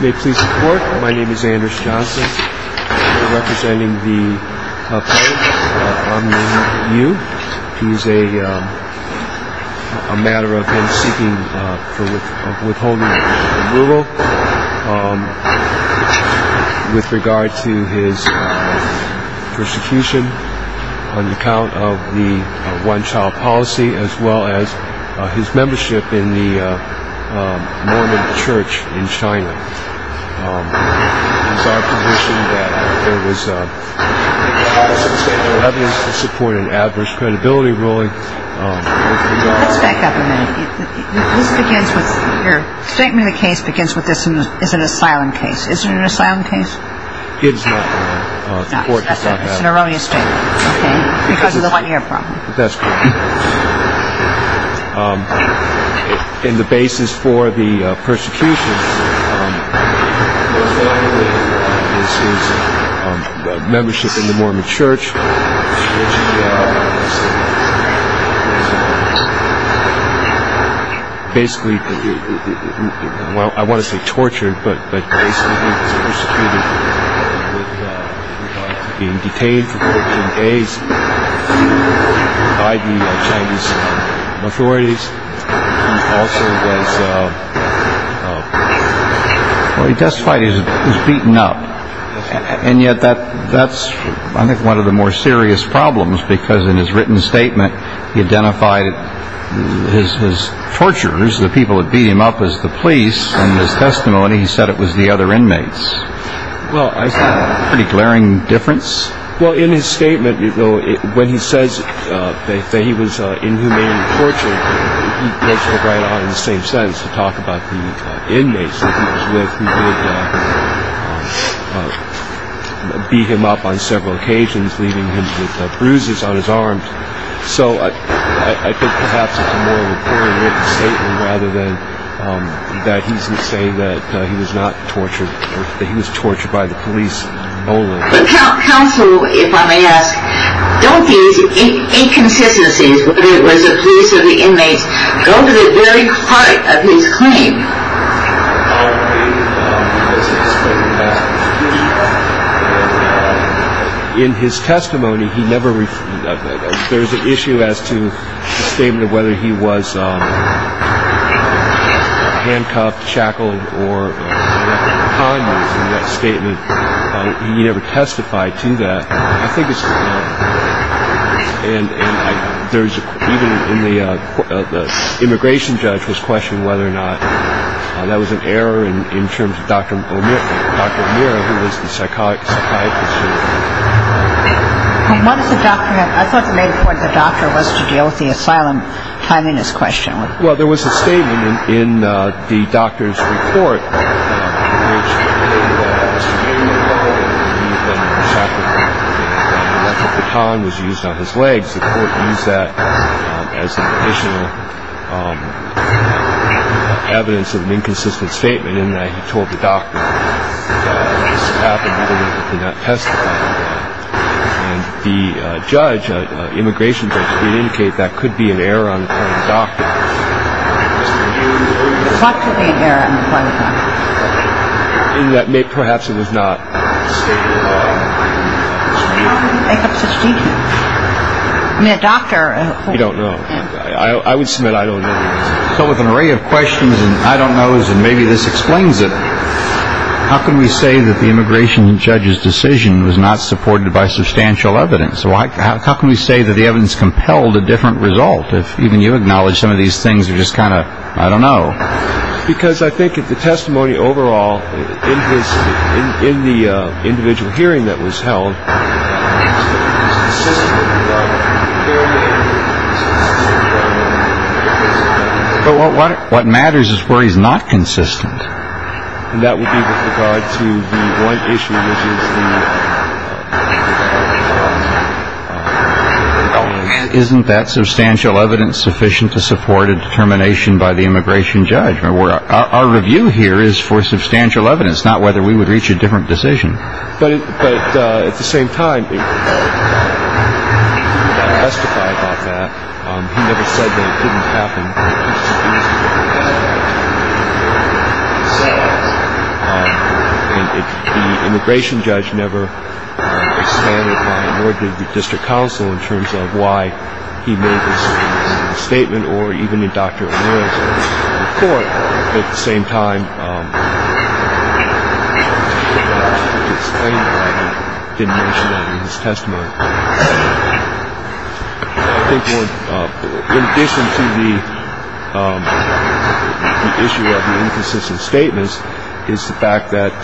May it please the court, my name is Anders Johnson. I'm representing the Pope, Aung Myint Yiu. He's a matter of him seeking for withholding removal with regard to his persecution on account of the one child policy as well as his membership in the Mormon church in New York. He's on condition that there was evidence to support an adverse credibility ruling. Let's back up a minute. This begins with, your statement of the case begins with this is an asylum case. Is it an asylum case? It is not. It's an erroneous statement, okay, because of the one year problem. That's correct. And the basis for the persecution is his membership in the Mormon church. Basically, I want to say tortured, but basically he was persecuted with regard to being detained for 14 days by the Chinese authorities. He also was, well he testified he was beaten up. And yet that's I think one of the more serious problems because in his written statement he identified his torturers, the people that beat him up, as the police. In his testimony he said it was the other inmates. Well, I think that's a pretty glaring difference. Well, in his statement, you know, when he says that he was inhumane and tortured, he goes right on in the same sense to talk about the inmates that he was with who would beat him up on several occasions, leaving him with bruises on his arms. So I think perhaps it's a more recorded written statement rather than that he's saying that he was not tortured or that he was tortured by the police only. But counsel, if I may ask, don't these inconsistencies where it was the police or the inmates go to the very part of his claim? In his testimony he never, there's an issue as to the statement of whether he was handcuffed, shackled, or conned in that statement. He never testified to that. I think it's, and there's, even in the, the immigration judge was questioning whether or not that was an error in terms of Dr. O'Meara, who was the psychiatrist. And what does the doctor have, I thought you made it clear what the doctor was to deal with the asylum timeliness question. Well, there was a statement in the doctor's report which stated that he was being involved in an incident where he had been shackled and a metal baton was used on his legs. The court used that as an additional evidence of an inconsistent statement in that he told the doctor that this had happened earlier but did not testify to that. And the judge, immigration judge, did indicate that could be an error on the part of the doctor. What could be an error on the part of the doctor? In that perhaps it was not. How can you make up such details? I mean, a doctor. You don't know. I would submit I don't know. So with an array of questions and I don't knows and maybe this explains it, how can we say that the immigration judge's decision was not supported by substantial evidence? How can we say that the evidence compelled a different result if even you acknowledge some of these things are just kind of, I don't know. Because I think if the testimony overall in the individual hearing that was held. But what matters is where he's not consistent. And that would be with regard to the one issue which is the. Isn't that substantial evidence sufficient to support a determination by the immigration judge? Our review here is for substantial evidence, not whether we would reach a different decision. But at the same time. I. Immigration judge never. Or did the district council in terms of why he made this statement or even a doctor? At the same time. Testimony. Statements is the fact that. I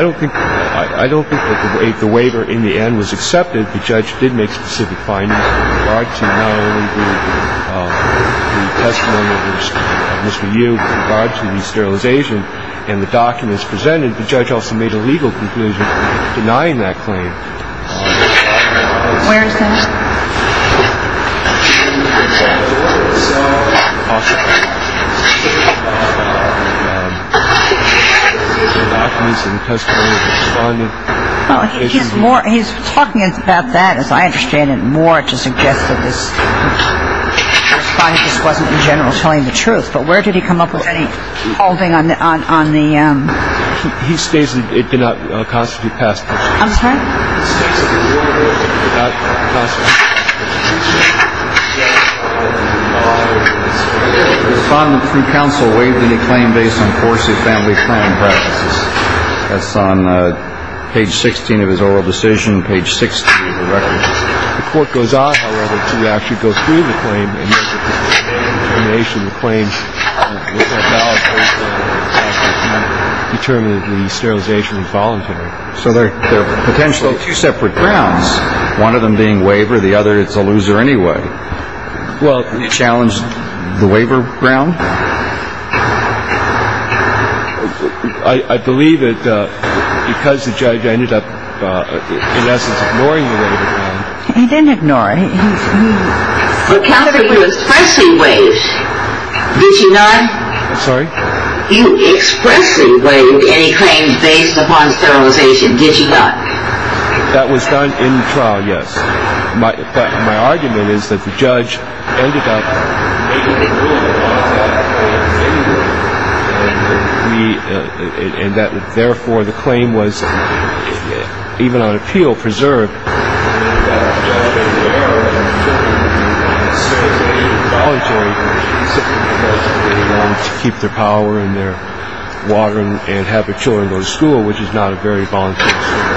don't think. The waiver in the end was accepted. The judge did make specific findings. And the documents presented the judge also made a legal conclusion denying that claim. He's talking about that, as I understand it, more to suggest that this. This wasn't in general telling the truth. But where did he come up with any holding on the on the. He states it did not constitute past. I'm sorry. Respondent from counsel waived any claim based on course of family. That's on page 16 of his oral decision. Page six. The court goes on to actually go through the claim. The nation claims. I. Determined the sterilization voluntary. So there are potentially two separate grounds. One of them being waiver. The other. It's a loser anyway. Well, you challenged the waiver ground. I believe that because the judge ended up. Ignoring. He didn't ignore. He. Look out for you. Expressing ways. Did you not. Sorry. You expressly waived any claim based upon sterilization. Did you not. That was done in trial. Yes. My. My argument is that the judge ended up. Me. And that. Therefore, the claim was. Even on appeal preserved. Sterilization. Voluntary. To keep their power in their. Watering and have the children go to school, which is not a very voluntary.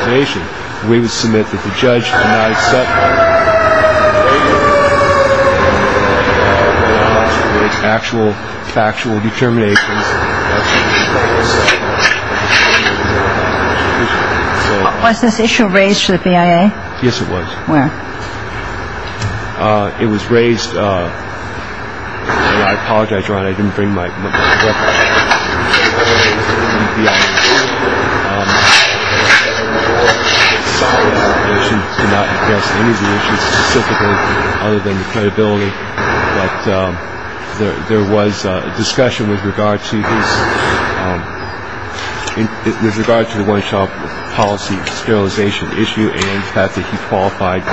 Nation. We would submit that the judge. Actual factual determination. Was this issue raised to the BIA? Yes, it was. Where. It was raised. I apologize. I didn't bring my. Other than the credibility. There was a discussion with regard to. With regard to the. Policy sterilization issue. And. He qualified.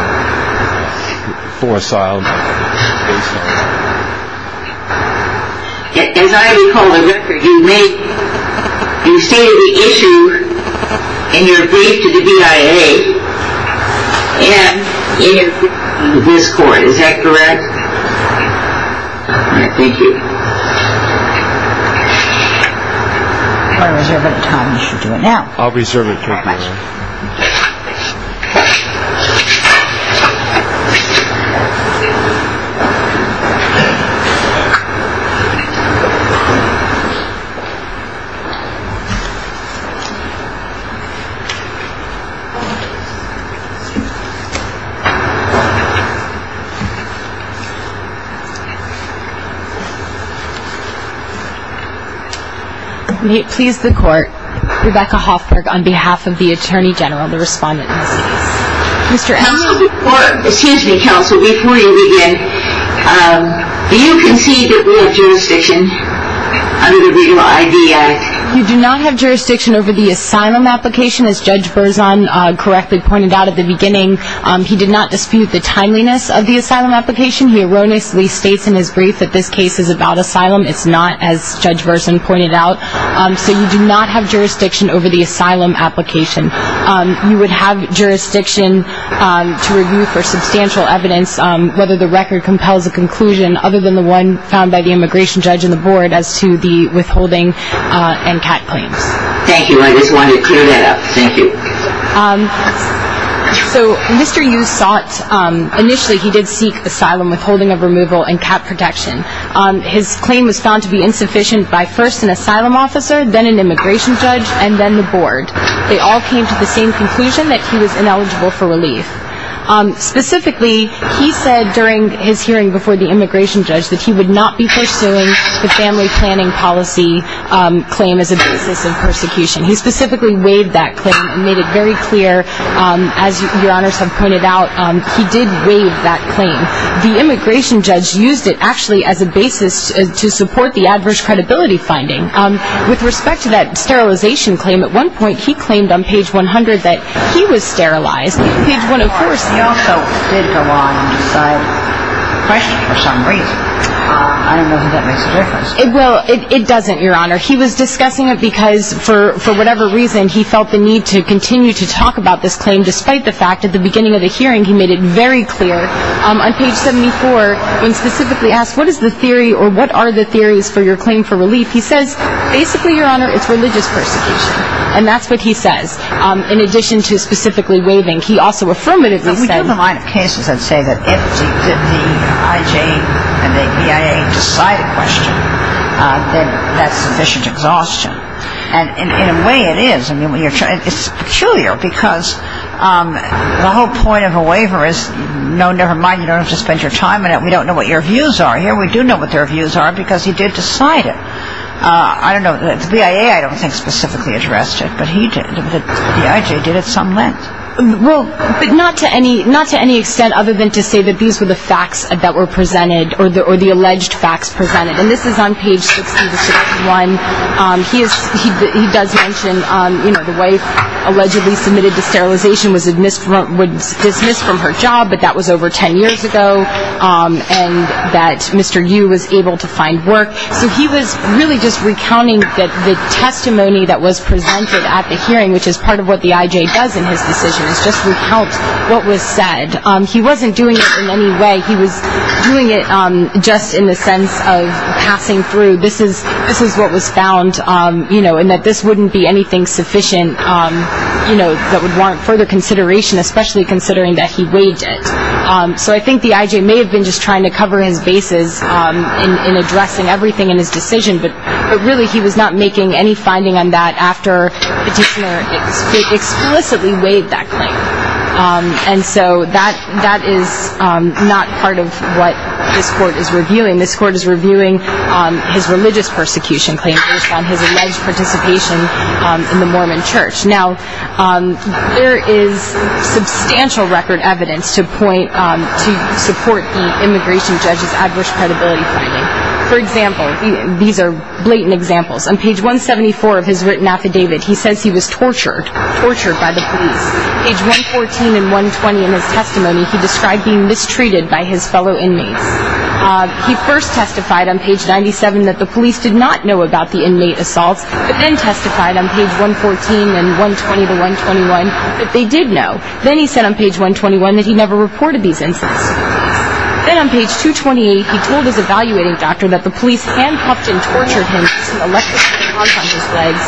For asylum. As I recall. You make. You say the issue. In your brief to the BIA. And. In. This court. Is that correct. Thank you. Now. I'll reserve it. May it please the court. Rebecca Hoffberg. On behalf of the attorney general. The respondent. Mr. Excuse me, counsel. Before you begin. You can see. That we have jurisdiction. Under the. BIA. You do not have jurisdiction over the asylum application. As Judge. Burzon. Correctly pointed out at the beginning. He did not dispute the timeliness. Of the asylum application. He erroneously states in his brief. That this case is about asylum. It's not. As Judge. Burzon pointed out. So you do not have jurisdiction. Over the asylum application. You would have jurisdiction. To review for substantial evidence. Whether the record compels a conclusion. Other than the one. Found by the immigration judge in the board. As to the withholding. And cat claims. Thank you. I just wanted to clear that up. Thank you. So. Mr. You sought. Initially he did seek asylum. Withholding of removal. And cat protection. His claim was found to be insufficient. By first an asylum officer. Then an immigration judge. And then the board. They all came to the same conclusion. That he was ineligible for relief. Specifically. He said during his hearing. Before the immigration judge. That he would not be pursuing. The family planning policy. Claim as a basis of persecution. He specifically weighed that claim. And made it very clear. As your honors have pointed out. He did weigh that claim. The immigration judge used it. Actually as a basis. To support the adverse credibility finding. With respect to that sterilization claim. At one point he claimed on page 100. That he was sterilized. Page 104. He also did go on and decide. For some reason. I don't know if that makes a difference. It doesn't your honor. He was discussing it because. He would continue to talk about this claim. Despite the fact at the beginning of the hearing. He made it very clear. On page 74. When specifically asked what is the theory. Or what are the theories for your claim for relief. He says basically your honor. It's religious persecution. And that's what he says. In addition to specifically waiving. He also affirmatively said. We do have a line of cases that say. That if the IJ and the BIA decide a question. Then that's sufficient exhaustion. And in a way it is. It's peculiar because. The whole point of a waiver is. No never mind. You don't have to spend your time on it. We don't know what your views are. Here we do know what their views are. Because he did decide it. I don't know. The BIA I don't think specifically addressed it. But he did. The IJ did at some length. But not to any extent. Other than to say that these were the facts. That were presented. Or the alleged facts presented. That the woman allegedly submitted to sterilization. Was dismissed from her job. But that was over ten years ago. And that Mr. Yu was able to find work. So he was really just recounting. That the testimony that was presented. At the hearing. Which is part of what the IJ does in his decisions. Is just recount what was said. He wasn't doing it in any way. He was doing it. Just in the sense of passing through. This is what was found. You know. And that this wouldn't be anything sufficient. You know. That would warrant further consideration. Especially considering that he weighed it. So I think the IJ may have been just trying to cover his bases. In addressing everything in his decision. But really he was not making any finding on that. After Petitioner explicitly weighed that claim. And so that is not part of what this court is reviewing. This court is reviewing his religious persecution claim. Based on his alleged participation in the Mormon church. Now there is substantial record evidence. To support the immigration judge's adverse credibility finding. For example. These are blatant examples. On page 174 of his written affidavit. He says he was tortured. Tortured by the police. Page 114 and 120 in his testimony. He described being mistreated by his fellow inmates. He first testified on page 97. That the police did not know about the inmate assaults. But then testified on page 114 and 120 to 121. That they did know. Then he said on page 121. That he never reported these incidents. Then on page 228. He told his evaluating doctor. That the police handcuffed and tortured him. As he elected to put a rug on his legs.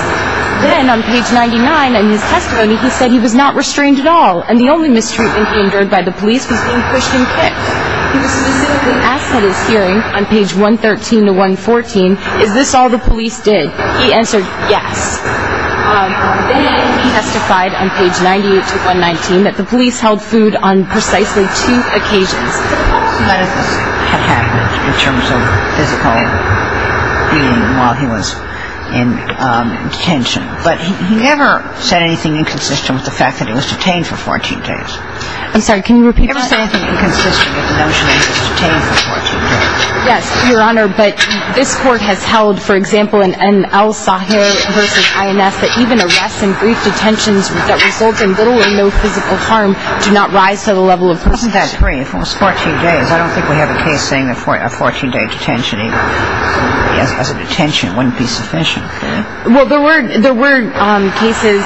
Then on page 99 in his testimony. He said he was not restrained at all. And the only mistreatment he endured by the police. Was being pushed and kicked. Then on page 114. He was specifically asked at his hearing. On page 113 to 114. Is this all the police did? He answered yes. Then he testified on page 98 to 119. That the police held food on precisely two occasions. That is what had happened. In terms of physical beating. While he was in detention. But he never said anything inconsistent. With the fact that he was detained for 14 days. I'm sorry. Can you repeat that? He never said anything inconsistent. With the notion that he was detained for 14 days. Yes, your honor. But this court has held. For example. In N.L. Sahir versus I.N.S. That even arrests and brief detentions. That result in little or no physical harm. Do not rise to the level of. Wasn't that brief? It was 14 days. I don't think we have a case saying. A 14 day detention either. As far as a detention. It wouldn't be sufficient. Well there were cases.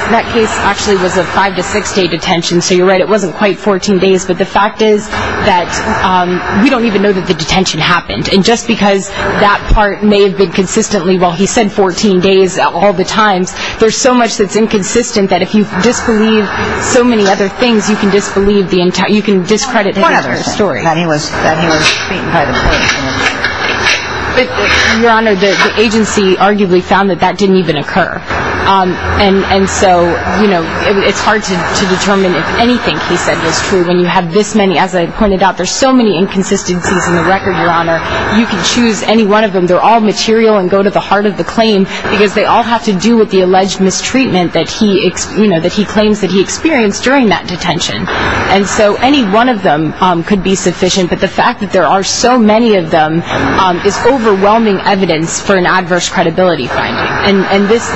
We don't even know that the detention happened. And just because. That part may have been consistently. While he said 14 days. All the times. There's so much that's inconsistent. That if you disbelieve so many other things. You can disbelieve the entire. You can discredit the entire story. That he was beaten by the police. Your honor. The agency arguably found. That that didn't even occur. And so you know. It's hard to determine. There are so many inconsistencies. In the record your honor. You can choose any one of them. They're all material. And go to the heart of the claim. Because they all have to do. With the alleged mistreatment that he. You know that he claims that he experienced. During that detention. And so any one of them. Could be sufficient. But the fact that there are so many of them. Is overwhelming evidence. For an adverse credibility finding. And this.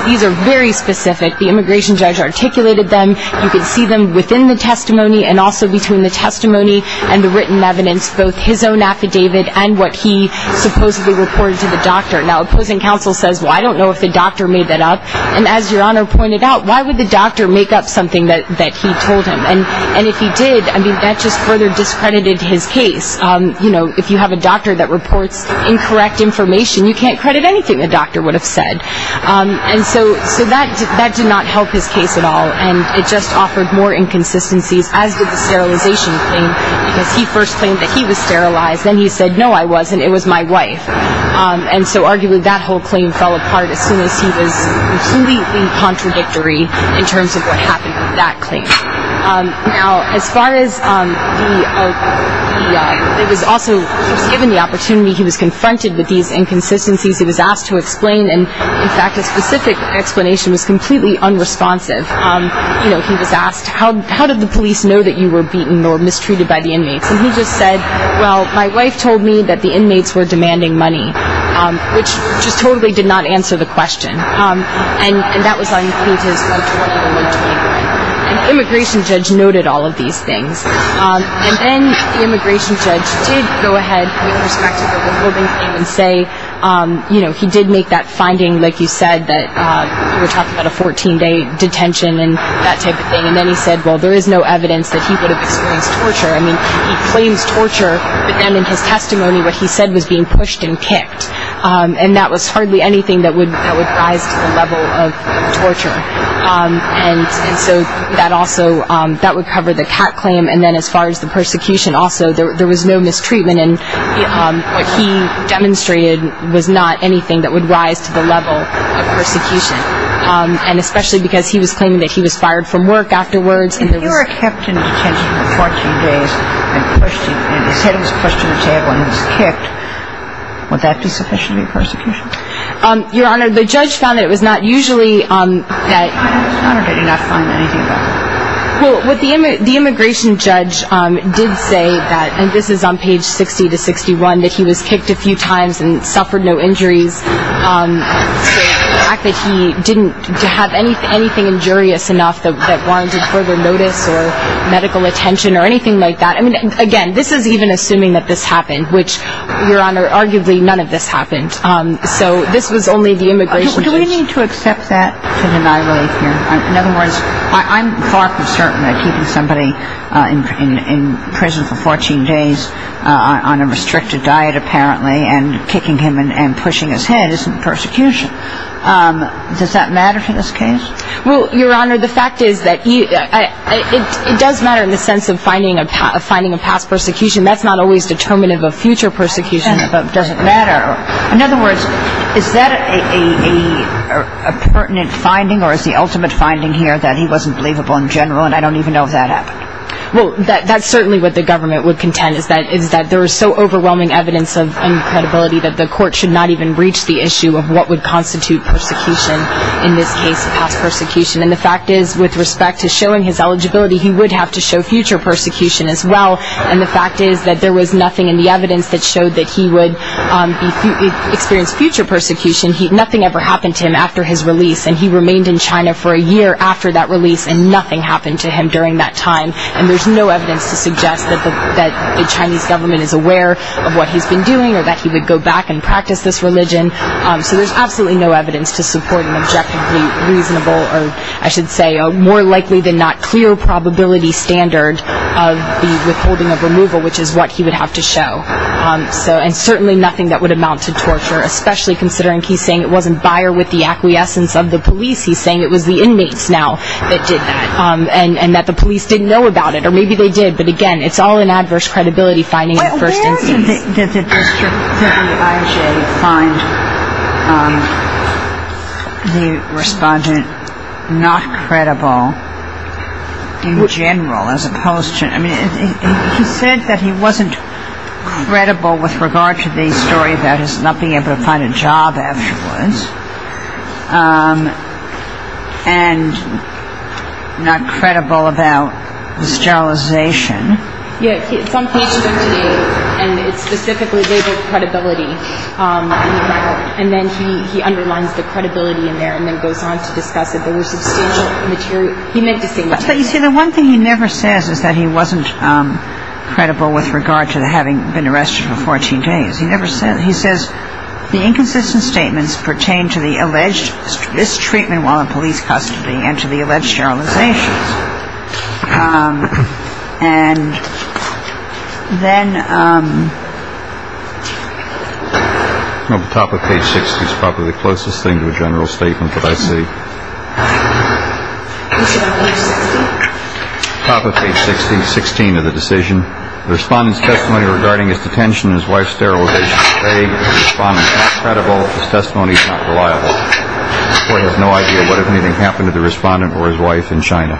Both his own affidavit. And what he supposedly reported to the doctor. Now opposing counsel says. Well I don't know if the doctor made that up. And as your honor pointed out. Why would the doctor make up something. That he told him. And if he did. I mean that just further discredited his case. You know if you have a doctor. That reports incorrect information. You can't credit anything the doctor would have said. And so that did not help his case at all. And it just offered more inconsistencies. As did the sterilization thing. First he was sterilized. Then he said no I wasn't. It was my wife. And so arguably that whole claim fell apart. As soon as he was completely contradictory. In terms of what happened with that claim. Now as far as the. It was also. Given the opportunity. He was confronted with these inconsistencies. He was asked to explain. And in fact a specific explanation. Was completely unresponsive. You know he was asked. How did the police know that you were beaten. Well my wife told me. That the inmates were demanding money. Which just totally did not answer the question. And that was on page. And immigration judge. Noted all of these things. And then the immigration judge. Did go ahead. And say. You know he did make that finding. Like you said that. We're talking about a 14 day detention. And that type of thing. And then he said well there is no evidence. That he would have experienced torture. But then in his testimony. What he said was being pushed and kicked. And that was hardly anything. That would rise to the level of torture. And so. That also. That would cover the cat claim. And then as far as the persecution. Also there was no mistreatment. And what he demonstrated. Was not anything that would rise to the level. Of persecution. And especially because he was claiming. That he was fired from work afterwards. And you were kept in detention for 14 days. And he was pushed to the table. And he was kicked. Would that be sufficient to be persecution? Your Honor. The judge found that it was not usually. Your Honor did he not find anything about that? Well what the immigration judge. Did say that. And this is on page 60 to 61. That he was kicked a few times. And suffered no injuries. The fact that he didn't. Have anything injurious enough. That warranted further notice. Or medical attention. Or anything that this happened. Which Your Honor. Arguably none of this happened. So this was only the immigration judge. Do we need to accept that. To deny relief here. In other words. I'm far from certain that keeping somebody. In prison for 14 days. On a restricted diet apparently. And kicking him and pushing his head. Isn't persecution. Does that matter to this case? Well Your Honor. The fact is that. He was determined of a future persecution. Doesn't matter. In other words. Is that a pertinent finding. Or is the ultimate finding here. That he wasn't believable in general. And I don't even know if that happened. Well that's certainly what the government would contend. Is that there is so overwhelming evidence of. Incredibility that the court should not even. Reach the issue of what would constitute persecution. In this case. Past persecution. And the fact is with respect to showing his eligibility. He would have to show future persecution as well. Because there was nothing in the evidence. That showed that he would. Experience future persecution. Nothing ever happened to him after his release. And he remained in China for a year after that release. And nothing happened to him during that time. And there's no evidence to suggest. That the Chinese government is aware. Of what he's been doing. Or that he would go back and practice this religion. So there's absolutely no evidence. To support an objectively reasonable. Or I should say. More likely than not. Clear probability standard. Of what he would show. And certainly nothing that would amount to torture. Especially considering he's saying. It wasn't Bayer with the acquiescence of the police. He's saying it was the inmates now. That did that. And that the police didn't know about it. Or maybe they did. But again it's all an adverse credibility finding. In the first instance. Where did the district of the IJ find. The respondent. Not credible. In general. As opposed to. Credible with regard to the story. About his not being able to find a job afterwards. And. Not credible about. The sterilization. Yeah. It's on page 28. And it's specifically labeled credibility. And then he. He underlines the credibility in there. And then goes on to discuss it. There were substantial. He made the same mistake. But you see the one thing he never says. Is that he wasn't. Been arrested for 14 days. He never said he says. The inconsistent statements pertain to the alleged. This treatment while in police custody. And to the alleged sterilization. And. Then. Top of page 60. Is probably the closest thing to a general statement. But I see. Top of page 60. 16 of the decision. The respondent's testimony. Regarding. His detention. His wife sterilization. Credible testimony. Reliable. Has no idea. What if anything happened to the respondent. Or his wife in China.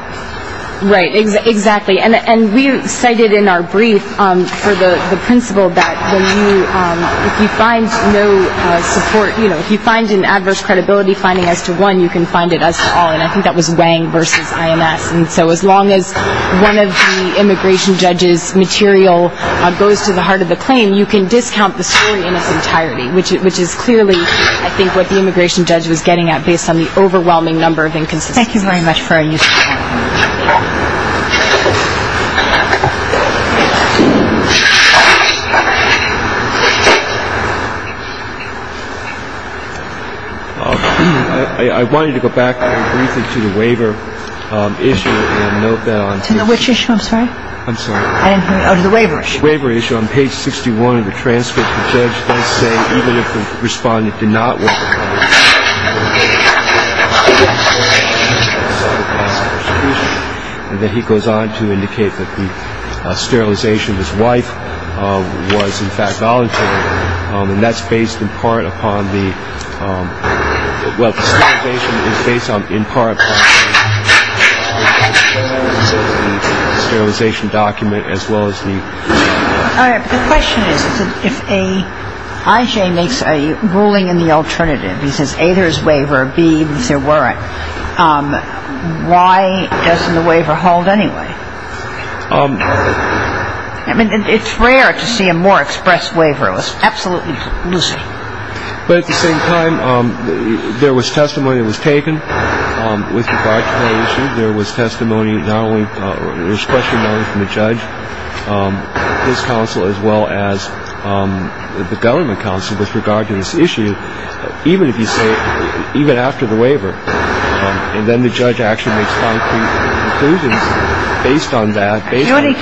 Right. Exactly. And we cited in our brief. For the principle that. If you find no support. You know if you find an adverse credibility. Finding as to one you can find it. And I think that was weighing versus. And so as long as. One of the immigration judges material. Goes to the heart of the claim. You can discount the story in its entirety. Which is clearly. I think what the immigration judge was getting at. Based on the overwhelming number of inconsistencies. Thank you very much for. I wanted to go back. Briefly to the waiver. Issue. Which issue. I'm sorry. I'm sorry. The waiver. Waiver issue on page 61 of the transcript. The judge. Responded. Did not. And then he goes on to indicate that. Sterilization his wife. Was in fact voluntary. And that's based in part. Upon the. Well. Based on in part. Sterilization document. As well as the. The question is. If a. I.J. makes a. Ruling in the alternative. He says. A. There's waiver. B. There weren't. Why. Doesn't the waiver hold. Anyway. I mean. It's rare. To see a more express waiver. Absolutely. Lucy. But at the same time. There was testimony. It was taken. With. There was testimony. Not only. This question. From the judge. His counsel. As well as. The government council. With regard to this issue. Even if you say. Even after the waiver. And then the judge actually. Based on that. Based on. This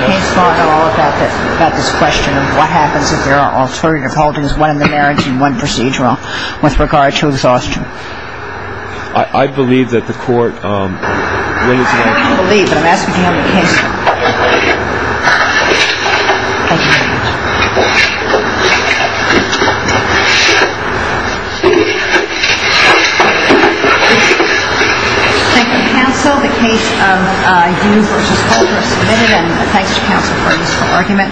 question. What happens. If there are alternative. Holdings. One in the marriage. And one procedural. With regard to exhaustion. I believe that the court. Will. Believe that. We have a case. Thank you counsel. The case of. Versus. Argument.